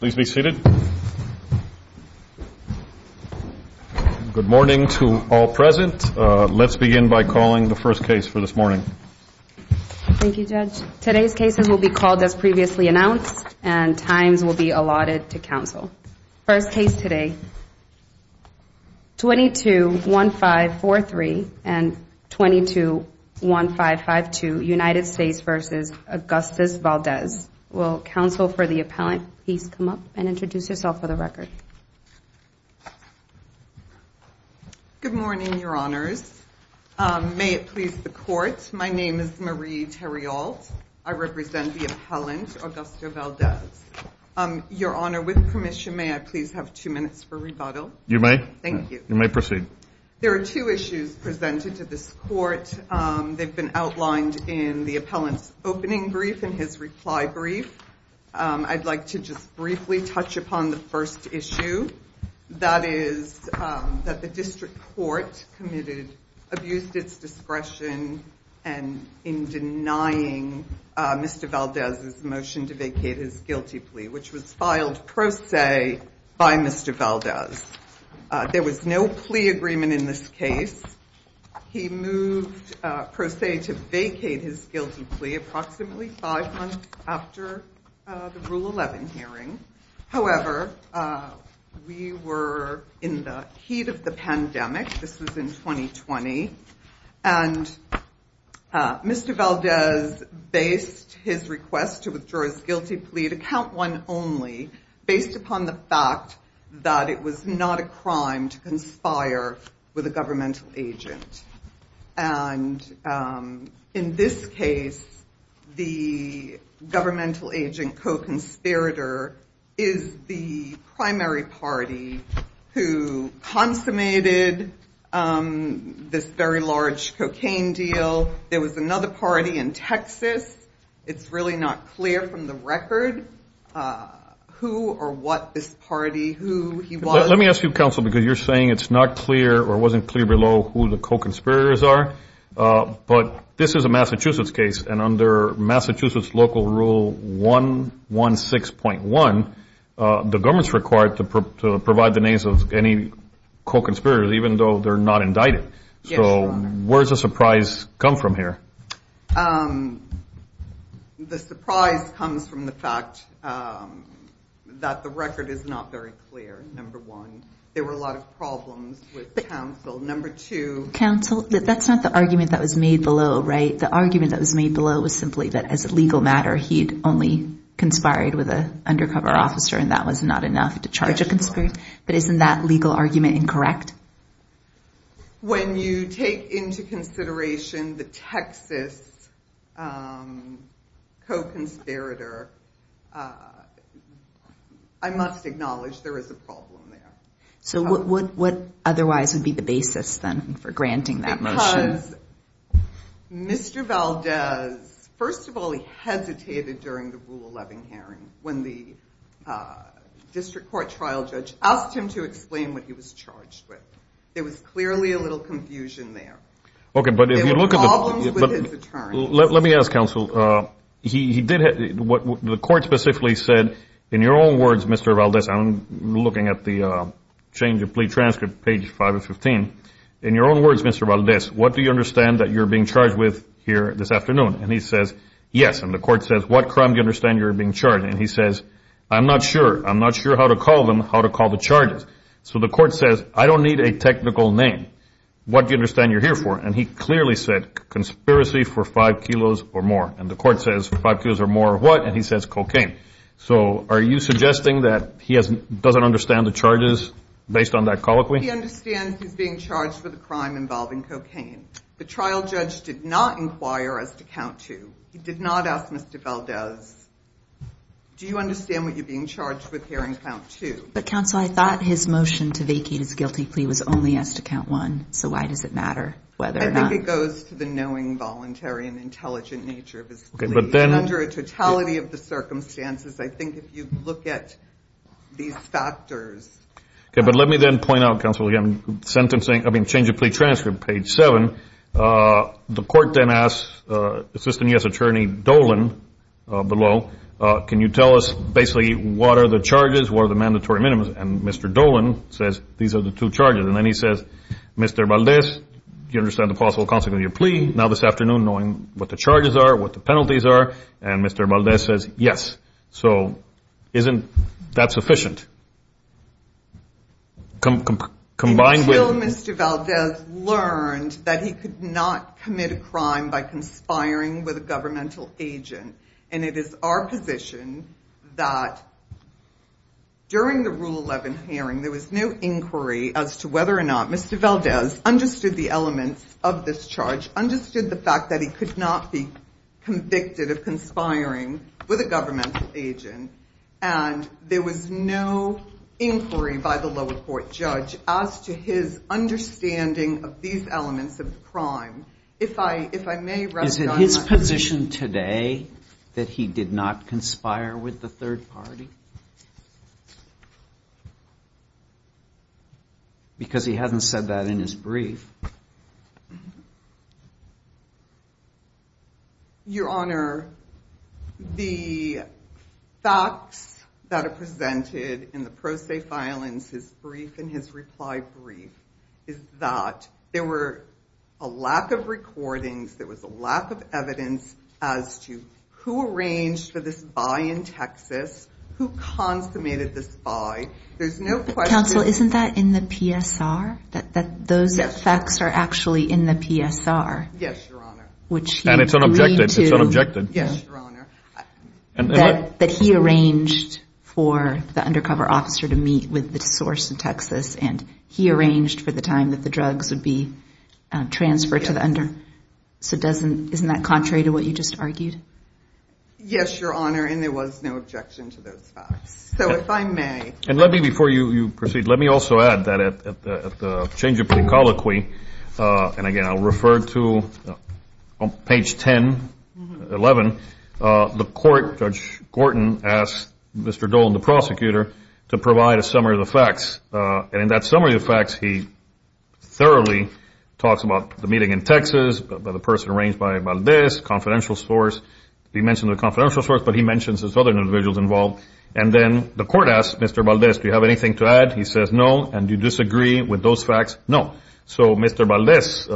Please be seated. Good morning to all present. Let's begin by calling the first case for this morning. Thank you, Judge. Today's cases will be called as previously announced and times will be allotted to counsel. First case today, 22-1543 and 22-1552, United States v. Augustus Valdez. Will counsel for the appellant please come up and introduce yourself for the record. Good morning, Your Honors. May it please the Court, my name is Marie Terriault. I represent the appellant, Augusto Valdez. Your Honor, with permission, may I please have two minutes for rebuttal? You may. Thank you. You may proceed. There are two issues presented to this court. They've been outlined in the appellant's opening brief and his reply brief. I'd like to just briefly touch upon the first issue. That is that the district court committed, abused its discretion in denying Mr. Valdez's motion to vacate his guilty plea, which was filed pro se by Mr. Valdez. There was no plea agreement in this case. He moved pro se to vacate his guilty plea approximately five months after the Rule 11 hearing. However, we were in the heat of the And Mr. Valdez based his request to withdraw his guilty plea, to count one only, based upon the fact that it was not a crime to conspire with a governmental agent. And in this case, the cocaine deal, there was another party in Texas. It's really not clear from the record who or what this party, who he was. Let me ask you, counsel, because you're saying it's not clear or wasn't clear below who the co-conspirators are. But this is a Massachusetts case. And under Massachusetts local Rule 116.1, the government's required to provide the names of any co-conspirators, even though they're not indicted. So where's the surprise come from here? The surprise comes from the fact that the record is not very clear. Number one, there were a lot of problems with counsel. Number two, Counsel, that's not the argument that was made below, right? The argument that was made below was simply that as a legal matter, he'd only conspired with a undercover officer, and that was not enough to charge a conspirator. But isn't that legal argument incorrect? When you take into consideration the Texas co-conspirator, I must acknowledge there is a problem there. So what otherwise would be the basis then for granting that motion? Mr. Valdez, first of all, he hesitated during the Rule 11 hearing when the district court trial judge asked him to explain what he was charged with. There was clearly a little confusion there. Okay, but if you look at it, let me ask counsel, he did what the court specifically said. In your own words, Mr. Valdez, I'm looking at the change of plea transcript, page five of 15. In your own words, Mr. Valdez, what do you understand that you're being charged with here this afternoon? And he says, yes. And the court says, what crime do you understand you're being charged? And he says, I'm not sure. I'm going to call the charges. So the court says, I don't need a technical name. What do you understand you're here for? And he clearly said, conspiracy for five kilos or more. And the court says, five kilos or more or what? And he says, cocaine. So are you suggesting that he doesn't understand the charges based on that colloquy? He understands he's being charged with a crime involving cocaine. The trial judge did not inquire as to count to. He did not ask Mr. Valdez, do you understand what you're being charged with here in count two? But counsel, I thought his motion to vacate his guilty plea was only as to count one. So why does it matter whether or not? It goes to the knowing, voluntary and intelligent nature of his plea. And under a totality of the circumstances, I think if you look at these factors. Okay, but let me then point out, counsel, again, sentencing, I mean, change of plea transcript, page seven. The court then asks Assistant U.S. Attorney Dolan below, can you tell us basically what are the charges? What are the mandatory minimums? And Mr. Dolan says, these are the two charges. And then he says, Mr. Valdez, do you understand the possible consequences of your plea? Now this afternoon, knowing what the charges are, what the penalties are, and Mr. Valdez says, yes. So isn't that sufficient? Combined with... Until Mr. Valdez learned that he could not commit a crime by conspiring with a governmental agent. And it is our position that during the Rule 11 hearing, there was no inquiry as to whether or not Mr. Valdez understood the elements of this charge, understood the fact that he could not be convicted of conspiring with a governmental agent. And there was no inquiry by the lower court judge as to his understanding of these elements of the crime. If I may... Is it his position today that he did not conspire with the third party? Because he hasn't said that in his brief. Your Honor, the facts that are presented in the pro se filings, his brief and his reply brief, is that there were a lack of evidence as to who arranged for this buy in Texas, who consummated this buy. There's no question... Counsel, isn't that in the PSR? That those facts are actually in the PSR? Yes, Your Honor. Which you agreed to... And it's unobjected. It's unobjected. Yes, Your Honor. That he arranged for the undercover officer to meet with the source in Texas, and he arranged for the time that the drugs would be transferred to the under... So isn't that contrary to what you just argued? Yes, Your Honor. And there was no objection to those facts. So if I may... And let me, before you proceed, let me also add that at the change of pre-colloquy, and again, I'll refer to page 10, 11, the court, Judge Gorton, asked Mr. Dolan, the prosecutor, to provide a summary of the facts. And in that summary of the facts, he generally talks about the meeting in Texas, about the person arranged by Valdez, confidential source. He mentioned the confidential source, but he mentions his other individuals involved. And then the court asked Mr. Valdez, do you have anything to add? He says no. And do you disagree with those facts? No. So Mr. Valdez,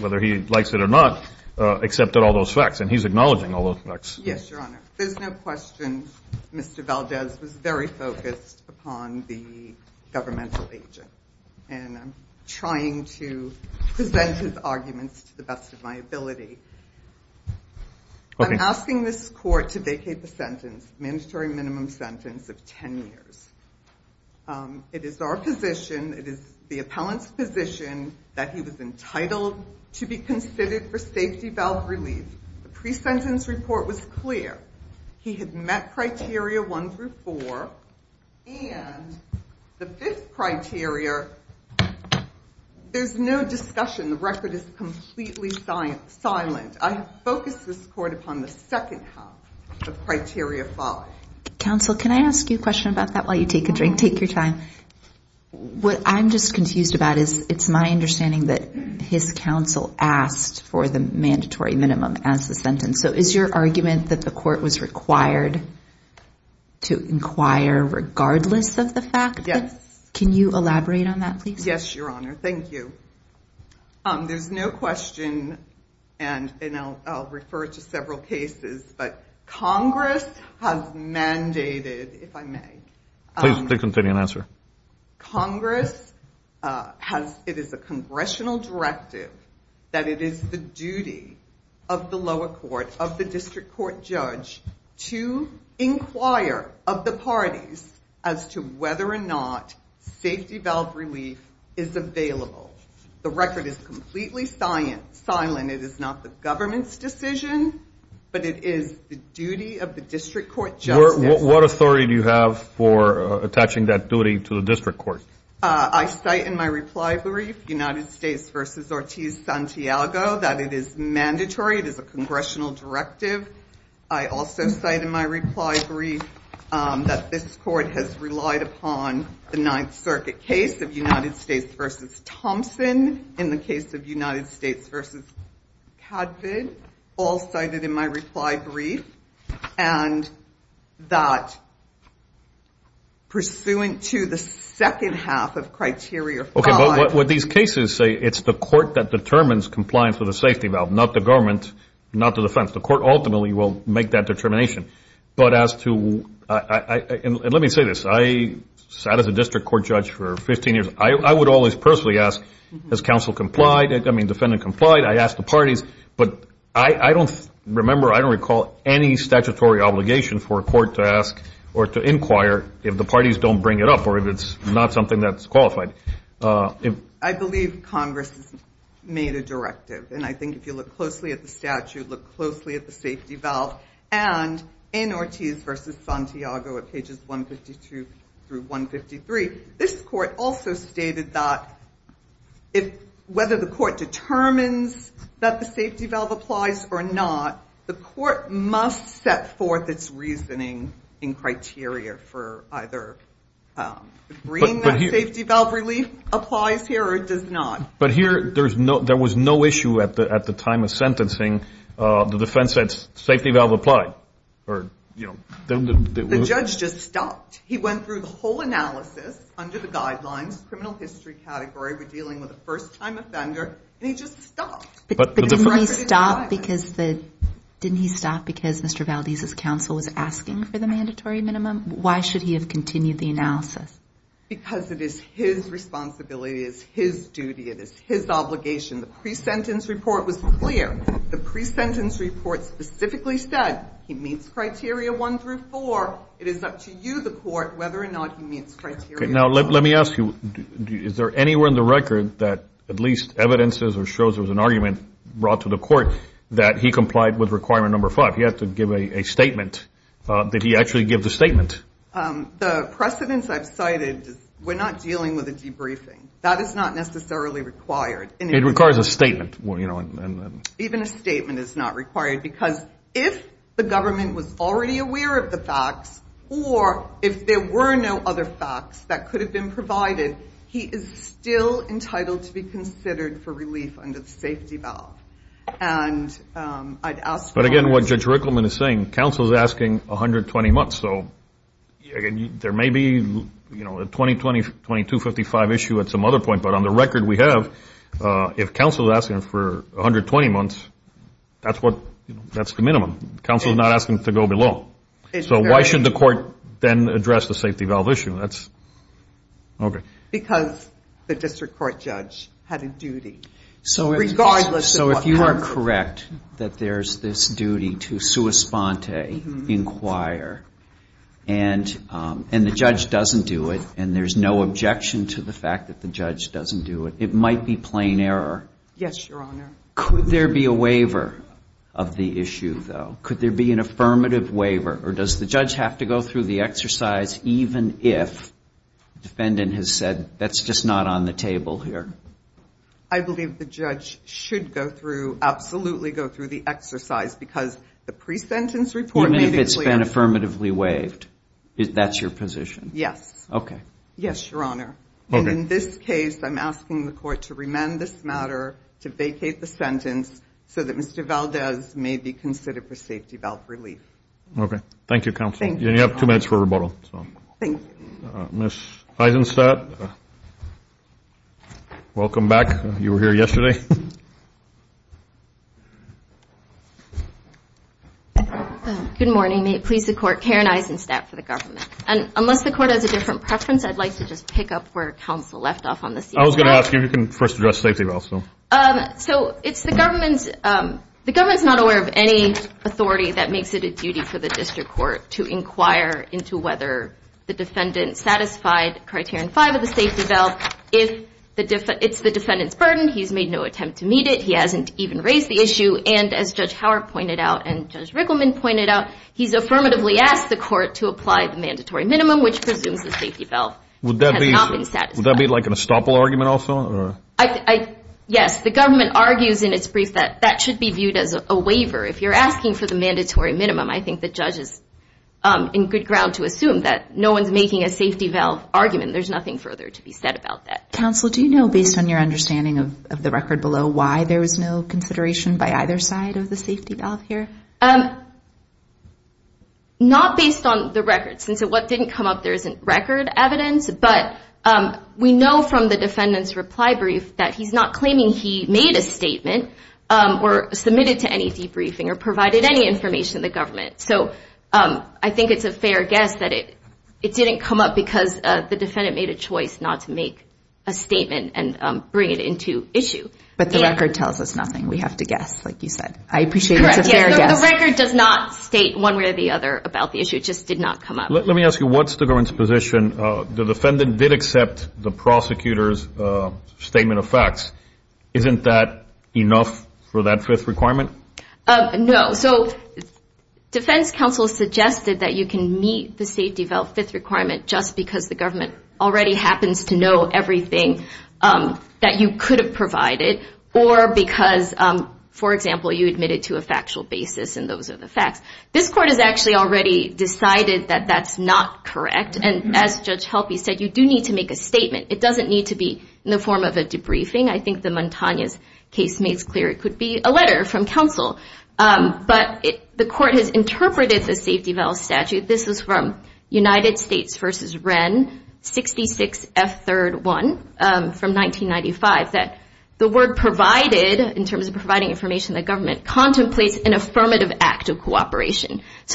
whether he likes it or not, accepted all those facts. And he's acknowledging all those facts. Yes, Your Honor. There's no question Mr. Valdez was very focused upon the governmental agent. And I'm trying to present his arguments to the best of my ability. I'm asking this court to vacate the sentence, mandatory minimum sentence, of 10 years. It is our position, it is the appellant's position, that he was entitled to be considered for safety valve relief. The pre-sentence report was clear. He had met criteria one through four. And the fifth criteria, there's no discussion. The record is completely silent. I have focused this court upon the second half of criteria five. Counsel, can I ask you a question about that while you take a drink? Take your time. What I'm just confused about is, it's my understanding that his counsel asked for the sentence. So is your argument that the court was required to inquire regardless of the fact? Yes. Can you elaborate on that, please? Yes, Your Honor. Thank you. There's no question, and I'll refer to several cases, but Congress has mandated, if I may. Please continue and answer. Congress has, it is a congressional directive that it is the duty of the lower court, of the district court judge, to inquire of the parties as to whether or not safety valve relief is available. The record is completely silent. It is not the government's decision, but it is the duty of the district court judge. What authority do you have for attaching that duty to the district court? I cite in my reply brief, United States v. Ortiz-Santiago, that it is mandatory. It is a congressional directive. I also cite in my reply brief that this court has relied upon the Ninth Circuit case of United States v. Thompson, in the case of United States v. Cadvid, all cited in my reply brief that, pursuant to the second half of criteria five... Okay, but what these cases say, it's the court that determines compliance with a safety valve, not the government, not the defense. The court ultimately will make that determination. Let me say this. I sat as a district court judge for 15 years. I would always personally ask, has counsel complied? I mean, defendant complied? I asked the parties, but I don't remember, I don't have any statutory obligation for a court to ask or to inquire if the parties don't bring it up, or if it's not something that's qualified. I believe Congress has made a directive, and I think if you look closely at the statute, look closely at the safety valve, and in Ortiz v. Santiago at pages 152 through 153, this court also stated that whether the court determines that the safety valve applies or not, the court must set forth its reasoning in criteria for either agreeing that safety valve relief applies here or it does not. But here, there was no issue at the time of sentencing. The defense said, safety valve applied, or... The judge just stopped. He went through the whole analysis under the guidelines, criminal history category, we're dealing with a first-time offender, and he just stopped. But didn't he stop because Mr. Valdez's counsel was asking for the mandatory minimum? Why should he have continued the analysis? Because it is his responsibility, it is his duty, it is his obligation. The pre-sentence report was clear. The pre-sentence report specifically said he meets criteria one through four. It is up to you, the court, whether or not he meets criteria one through four. Now, let me ask you, is there anywhere in the record that at least evidence shows there was an argument brought to the court that he complied with requirement number five? He had to give a statement. Did he actually give the statement? The precedence I've cited, we're not dealing with a debriefing. That is not necessarily required. It requires a statement. Even a statement is not required because if the government was already aware of the facts or if there were no other facts that could have been entitled to be considered for relief under the safety valve. And I'd ask... But again, what Judge Rickleman is saying, counsel is asking 120 months. So there may be a 2020-2255 issue at some other point, but on the record we have, if counsel is asking for 120 months, that's the minimum. Counsel is not asking to go below. So why should the court then address the safety valve issue? That's... Okay. Because the district court judge had a duty, regardless of what counsel... So if you are correct that there's this duty to sua sponte, inquire, and the judge doesn't do it, and there's no objection to the fact that the judge doesn't do it, it might be plain error. Yes, Your Honor. Could there be a waiver of the issue, though? Could there be an affirmative waiver? Or does the judge have to go through the exercise even if the defendant has said, that's just not on the table here? I believe the judge should go through, absolutely go through the exercise, because the pre-sentence report... Even if it's been affirmatively waived, that's your position? Yes. Okay. Yes, Your Honor. And in this case, I'm asking the court to remand this matter, to vacate the sentence, so that Mr. Valdez may be considered for safety valve relief. Okay. Thank you, counsel. You have two minutes for rebuttal. Thank you. Ms. Eisenstadt, welcome back. You were here yesterday. Good morning. May it please the court, Karen Eisenstadt for the government. And unless the court has a different preference, I'd like to just pick up where counsel left off on this. I was going to ask you if you can first address safety valve. So it's the government's... The government's not aware of any authority that makes it a duty for the district court to inquire into whether the defendant satisfied criterion five of the safety valve. It's the defendant's burden. He's made no attempt to meet it. He hasn't even raised the issue. And as Judge Howard pointed out, and Judge Rickleman pointed out, he's affirmatively asked the court to apply the mandatory minimum, which presumes the safety valve has not been satisfied. Would that be like an estoppel argument also? Yes. The government argues in its brief that that should be viewed as a waiver. If you're asking for the mandatory minimum, I think the judge is in good ground to assume that no one's making a safety valve argument. There's nothing further to be said about that. Counsel, do you know, based on your understanding of the record below, why there was no consideration by either side of the safety valve here? Not based on the records. And so what didn't come up, there isn't record evidence. But we know from the defendant's reply brief that he's not claiming he made a statement or submitted to any debriefing or provided any information to the government. So I think it's a fair guess that it didn't come up because the defendant made a choice not to make a statement and bring it into issue. But the record tells us nothing. We have to guess, like you said. I appreciate it's a fair guess. Correct. The record does not state one way or the other about the issue. It just did not come up. Let me ask you, what's the government's position? The defendant did accept the prosecutor's statement of facts. Isn't that enough for that fifth requirement? No. So defense counsel suggested that you can meet the safety valve fifth requirement just because the government already happens to know everything that you could have provided or because, for example, you admitted to a factual basis and those are the you do need to make a statement. It doesn't need to be in the form of a debriefing. I think the Montaigne's case makes clear it could be a letter from counsel. But the court has interpreted the safety valve statute. This is from United States v. Wren, 66F3-1, from 1995, that the word provided in terms of providing information to the government contemplates an affirmative act of cooperating. He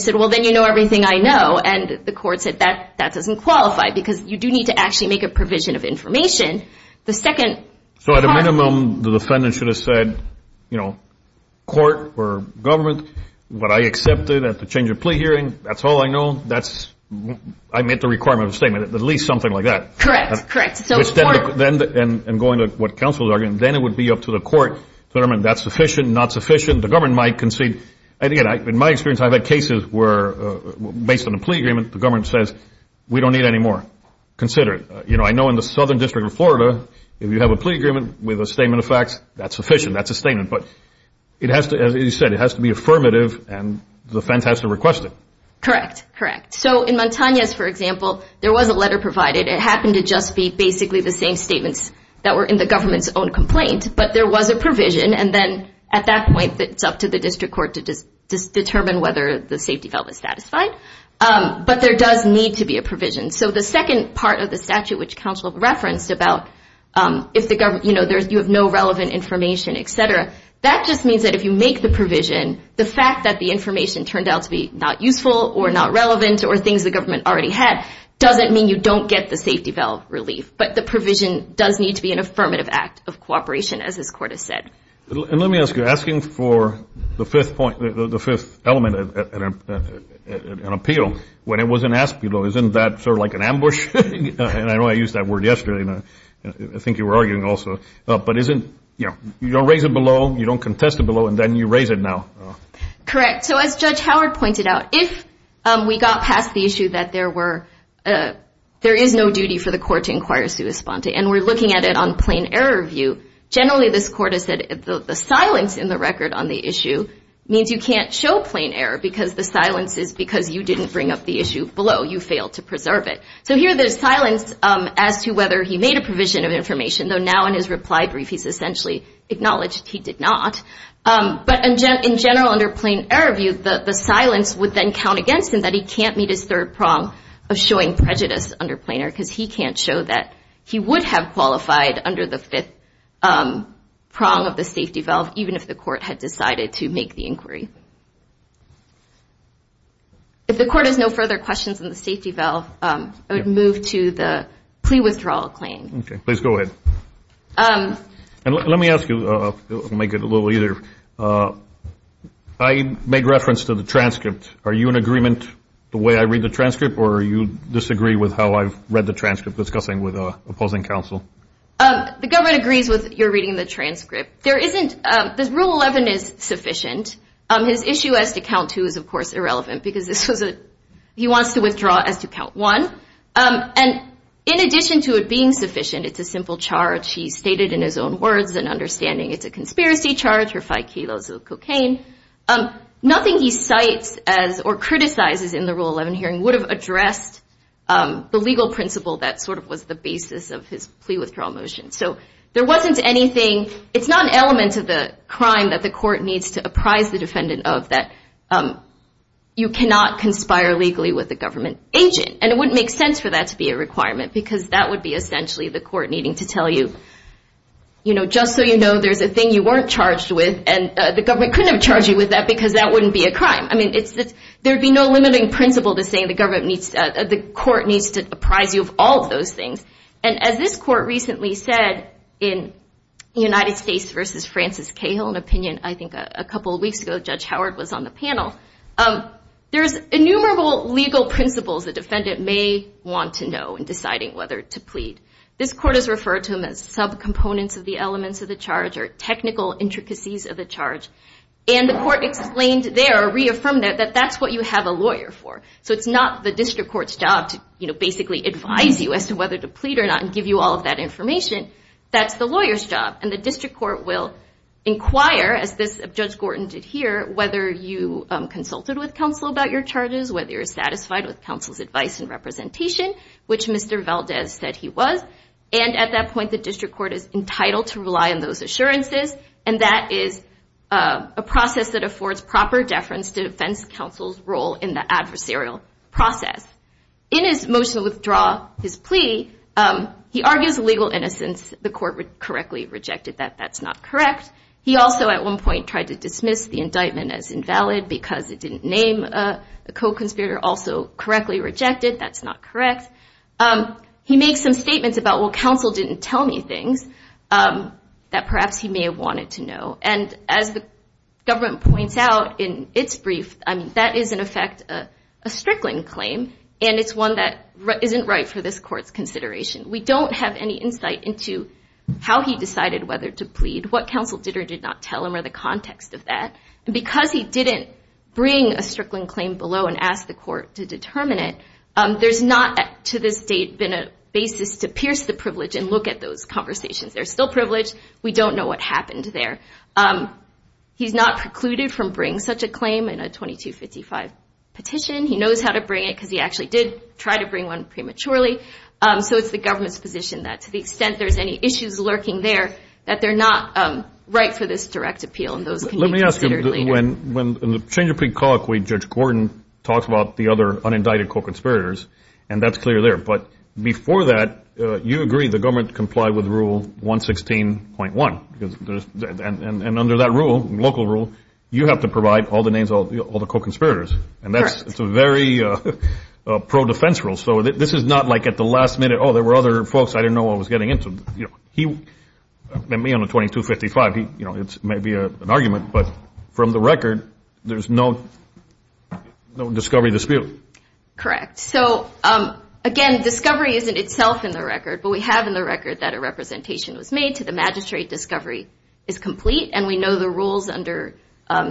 said, well, then you know everything I know. And the court said that that doesn't qualify because you do need to actually make a provision of information. So at a minimum, the defendant should have said, you know, court or government, what I accepted at the change of plea hearing, that's all I know. I met the requirement of the statement, at least something like that. Correct. Correct. And going to what counsel is arguing, then it would be up to the court to determine that's sufficient, not sufficient. The government might concede. And again, in my experience, I've had cases where based on a plea agreement, the government says, we don't need any more. Consider it. You know, I know in the Southern District of Florida, if you have a plea agreement with a statement of facts, that's sufficient. That's a statement. But it has to, as you said, it has to be affirmative, and the defense has to request it. Correct. Correct. So in Montaigne's, for example, there was a letter provided. It happened to just be basically the same statements that were in the government's own complaint. But there was a provision. And then at that point, it's up to the district court to just determine whether the safety valve is satisfied. But there does need to be a provision. So the second part of the statute, which counsel referenced about if the government, you know, you have no relevant information, et cetera, that just means that if you make the provision, the fact that the information turned out to be not useful or not relevant or things the government already had, doesn't mean you don't get the safety valve relief. But the provision does need to be an And let me ask you, asking for the fifth point, the fifth element of an appeal, when it wasn't asked below, isn't that sort of like an ambush? And I know I used that word yesterday. I think you were arguing also. But isn't, you know, you don't raise it below, you don't contest it below, and then you raise it now. Correct. So as Judge Howard pointed out, if we got past the issue that there were, there is no duty for the court to inquire sui sponte, and we're looking at it on silence in the record on the issue, means you can't show plain error, because the silence is because you didn't bring up the issue below. You failed to preserve it. So here there's silence as to whether he made a provision of information, though now in his reply brief he's essentially acknowledged he did not. But in general, under plain error view, the silence would then count against him that he can't meet his third prong of showing prejudice under plain error, because he can't show that he would have qualified under the fifth prong of the safety valve, even if the court had decided to make the inquiry. If the court has no further questions on the safety valve, I would move to the plea withdrawal claim. Okay, please go ahead. And let me ask you, make it a little easier, I make reference to the transcript. Are you in agreement the way I read the transcript, or you disagree with how I've read the transcript, discussing with opposing counsel? The government agrees with your reading the transcript. There isn't, this rule 11 is sufficient. His issue as to count two is of course irrelevant, because this was a, he wants to withdraw as to count one. And in addition to it being sufficient, it's a simple charge, he stated in his own words and understanding it's a conspiracy charge for five kilos of cocaine. Nothing he cites as or criticizes in the rule 11 hearing would have addressed the legal principle that sort of was the basis of his plea withdrawal motion. So there wasn't anything, it's not an element of the crime that the court needs to apprise the defendant of that you cannot conspire legally with a government agent. And it wouldn't make sense for that to be a requirement, because that would be essentially the court needing to tell you, you know, just so you know, there's a thing you weren't charged with, and the government couldn't have charged you with that because that wouldn't be a crime. I mean, it's, there'd be no limiting principle to saying the government needs, the court needs to apprise you of all of those things. And as this court recently said in United States versus Francis Cahill, an opinion I think a couple of weeks ago, Judge Howard was on the panel, there's innumerable legal principles the defendant may want to know in deciding whether to plead. This court has referred to them as sub-components of the elements of the charge or technical intricacies of the charge. And the court explained there, reaffirmed that, that that's what you have a lawyer for. So it's not the district court's job to, you know, basically advise you as to whether to plead or not and give you all of that information. That's the lawyer's job. And the district court will inquire, as this Judge Gorton did here, whether you consulted with counsel about your charges, whether you're satisfied with counsel's advice and representation, which Mr. Valdez said he was. And at that point, the district court is entitled to rely on those assurances. And that is a process that affords proper deference to defense counsel's role in the adversarial process. In his motion to withdraw his plea, he argues legal innocence, the court would correctly rejected that, that's not correct. He also at one point tried to dismiss the indictment as invalid because it didn't name a co-conspirator, also correctly rejected, that's not correct. He made some statements about, well, counsel didn't tell me things that perhaps he may have wanted to know. And as the government points out in its brief, I mean, that is in effect a strickling claim. And it's one that isn't right for this court's consideration. We don't have any insight into how he decided whether to plead, what counsel did or did not tell him, or the context of that. And because he didn't bring a strickling claim below and ask the court to determine it, there's not to this date been a privilege and look at those conversations. They're still privileged. We don't know what happened there. He's not precluded from bringing such a claim in a 2255 petition. He knows how to bring it because he actually did try to bring one prematurely. So it's the government's position that to the extent there's any issues lurking there, that they're not right for this direct appeal and those can be considered later. Let me ask you, when the change of plea colloquy, Judge Gordon talks about the other unindicted co-conspirators, and that's clear but before that, you agree the government complied with Rule 116.1. And under that rule, local rule, you have to provide all the names of all the co-conspirators. And that's a very pro-defense rule. So this is not like at the last minute, oh, there were other folks, I didn't know what I was getting into. Me on a 2255, it's maybe an argument, but from the record, there's no discovery dispute. Correct. So again, discovery isn't itself in the record, but we have in the record that a representation was made to the magistrate, discovery is complete, and we know the rules under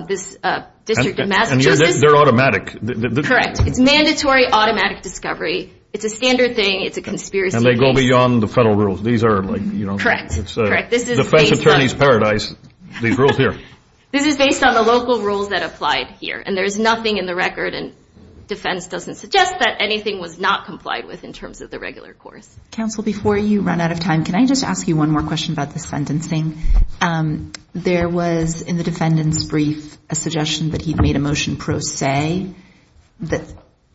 this District of Massachusetts. And they're automatic. Correct. It's mandatory automatic discovery. It's a standard thing. It's a conspiracy. And they go beyond the federal rules. These are like, you know. Correct. Correct. This is the defense attorney's paradise, these rules here. This is based on the local rules that applied here. And there's nothing in the record and defense doesn't suggest that anything was not complied with in terms of the regular course. Counsel, before you run out of time, can I just ask you one more question about the sentencing? There was, in the defendant's brief, a suggestion that he made a motion pro se that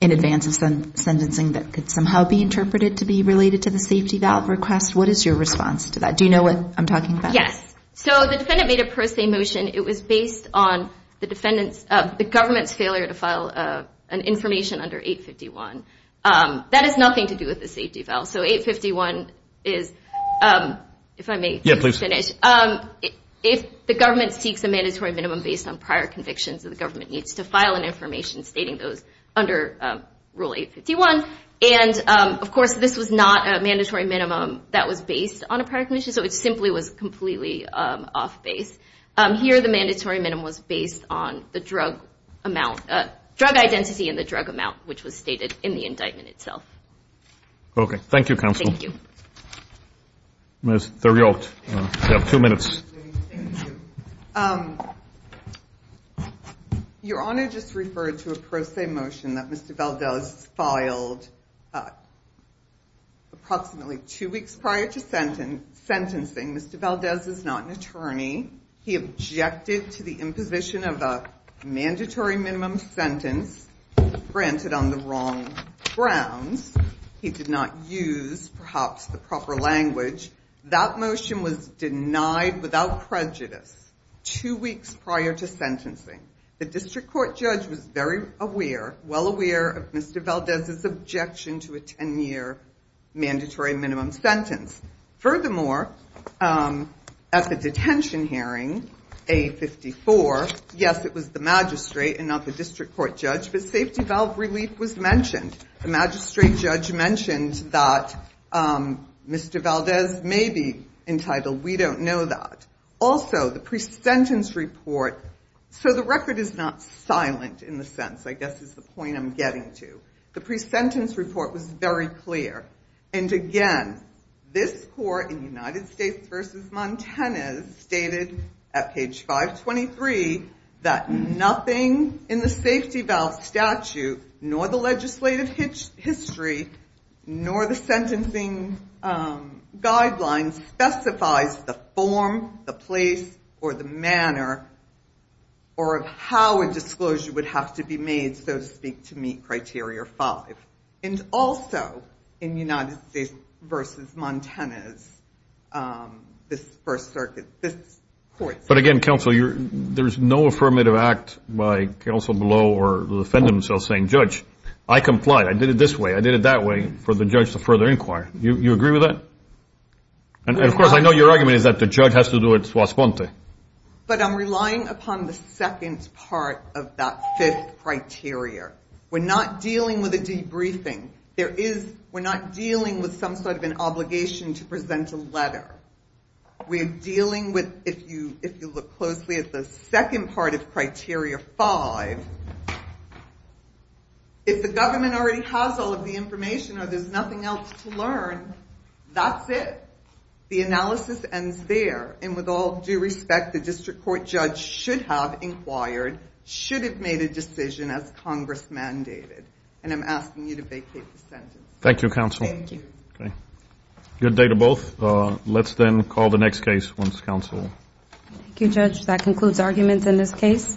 in advance of sentencing that could somehow be interpreted to be related to the safety valve request. What is your response to that? Do you know what I'm talking about? Yes. So the defendant made a pro se motion. It was based on the defendant's, the government's failure to file an information under 851. That has nothing to do with the safety valve. So 851 is, if I may finish, if the government seeks a mandatory minimum based on prior convictions, the government needs to file an information stating those under Rule 851. And of course, this was not a mandatory minimum that was based on a prior conviction, so it simply was completely off base. Here, the mandatory minimum was based on the drug amount, drug identity and the drug amount, which was stated in the indictment itself. Okay. Thank you, Counsel. Thank you. Ms. Theriot, you have two minutes. Your Honor just referred to a pro se motion that Mr. Valdez filed approximately two weeks prior to sentencing. Mr. Valdez is not an attorney. He objected to the imposition of a mandatory minimum sentence, granted on the wrong grounds. He did not use perhaps the proper language. That motion was denied without prejudice two weeks prior to sentencing. The district court judge was very aware, well aware of Mr. Valdez's objection to a 10-year mandatory minimum sentence. Furthermore, at the detention hearing, A-54, yes, it was the magistrate and not the district court judge, but safety valve relief was mentioned. The magistrate judge mentioned that Mr. Valdez may be entitled, we don't know that. Also, the pre-sentence report, so the record is not silent in the sense, I guess is the point I'm getting to. The pre-sentence report was very clear. And again, this court in United States v. Montanez stated at page 523 that nothing in the safety valve statute, nor the legislative history, nor the sentencing guidelines specifies the form, the place, or the manner, or how a disclosure would have to be made, so speak to meet criteria 5. And also, in United States v. Montanez, this first circuit, this court- But again, counsel, there's no affirmative act by counsel below or the defendant himself saying, judge, I complied. I did it this way. I did it that way for the judge to further inquire. You agree with that? And of course, I know your argument is that the judge has to do it. But I'm relying upon the second part of that fifth criteria. We're not dealing with a debriefing. We're not dealing with some sort of an obligation to present a letter. We're dealing with, if you look closely at the second part of criteria 5, if the government already has all of the information or there's nothing else to learn, that's it. The analysis ends there. And with all due respect, the district court judge should have inquired, should have made a decision as Congress mandated. And I'm asking you to vacate the sentence. Thank you, counsel. Thank you. Okay. Good day to both. Let's then call the next case once counsel- Thank you, judge. That concludes arguments in this case.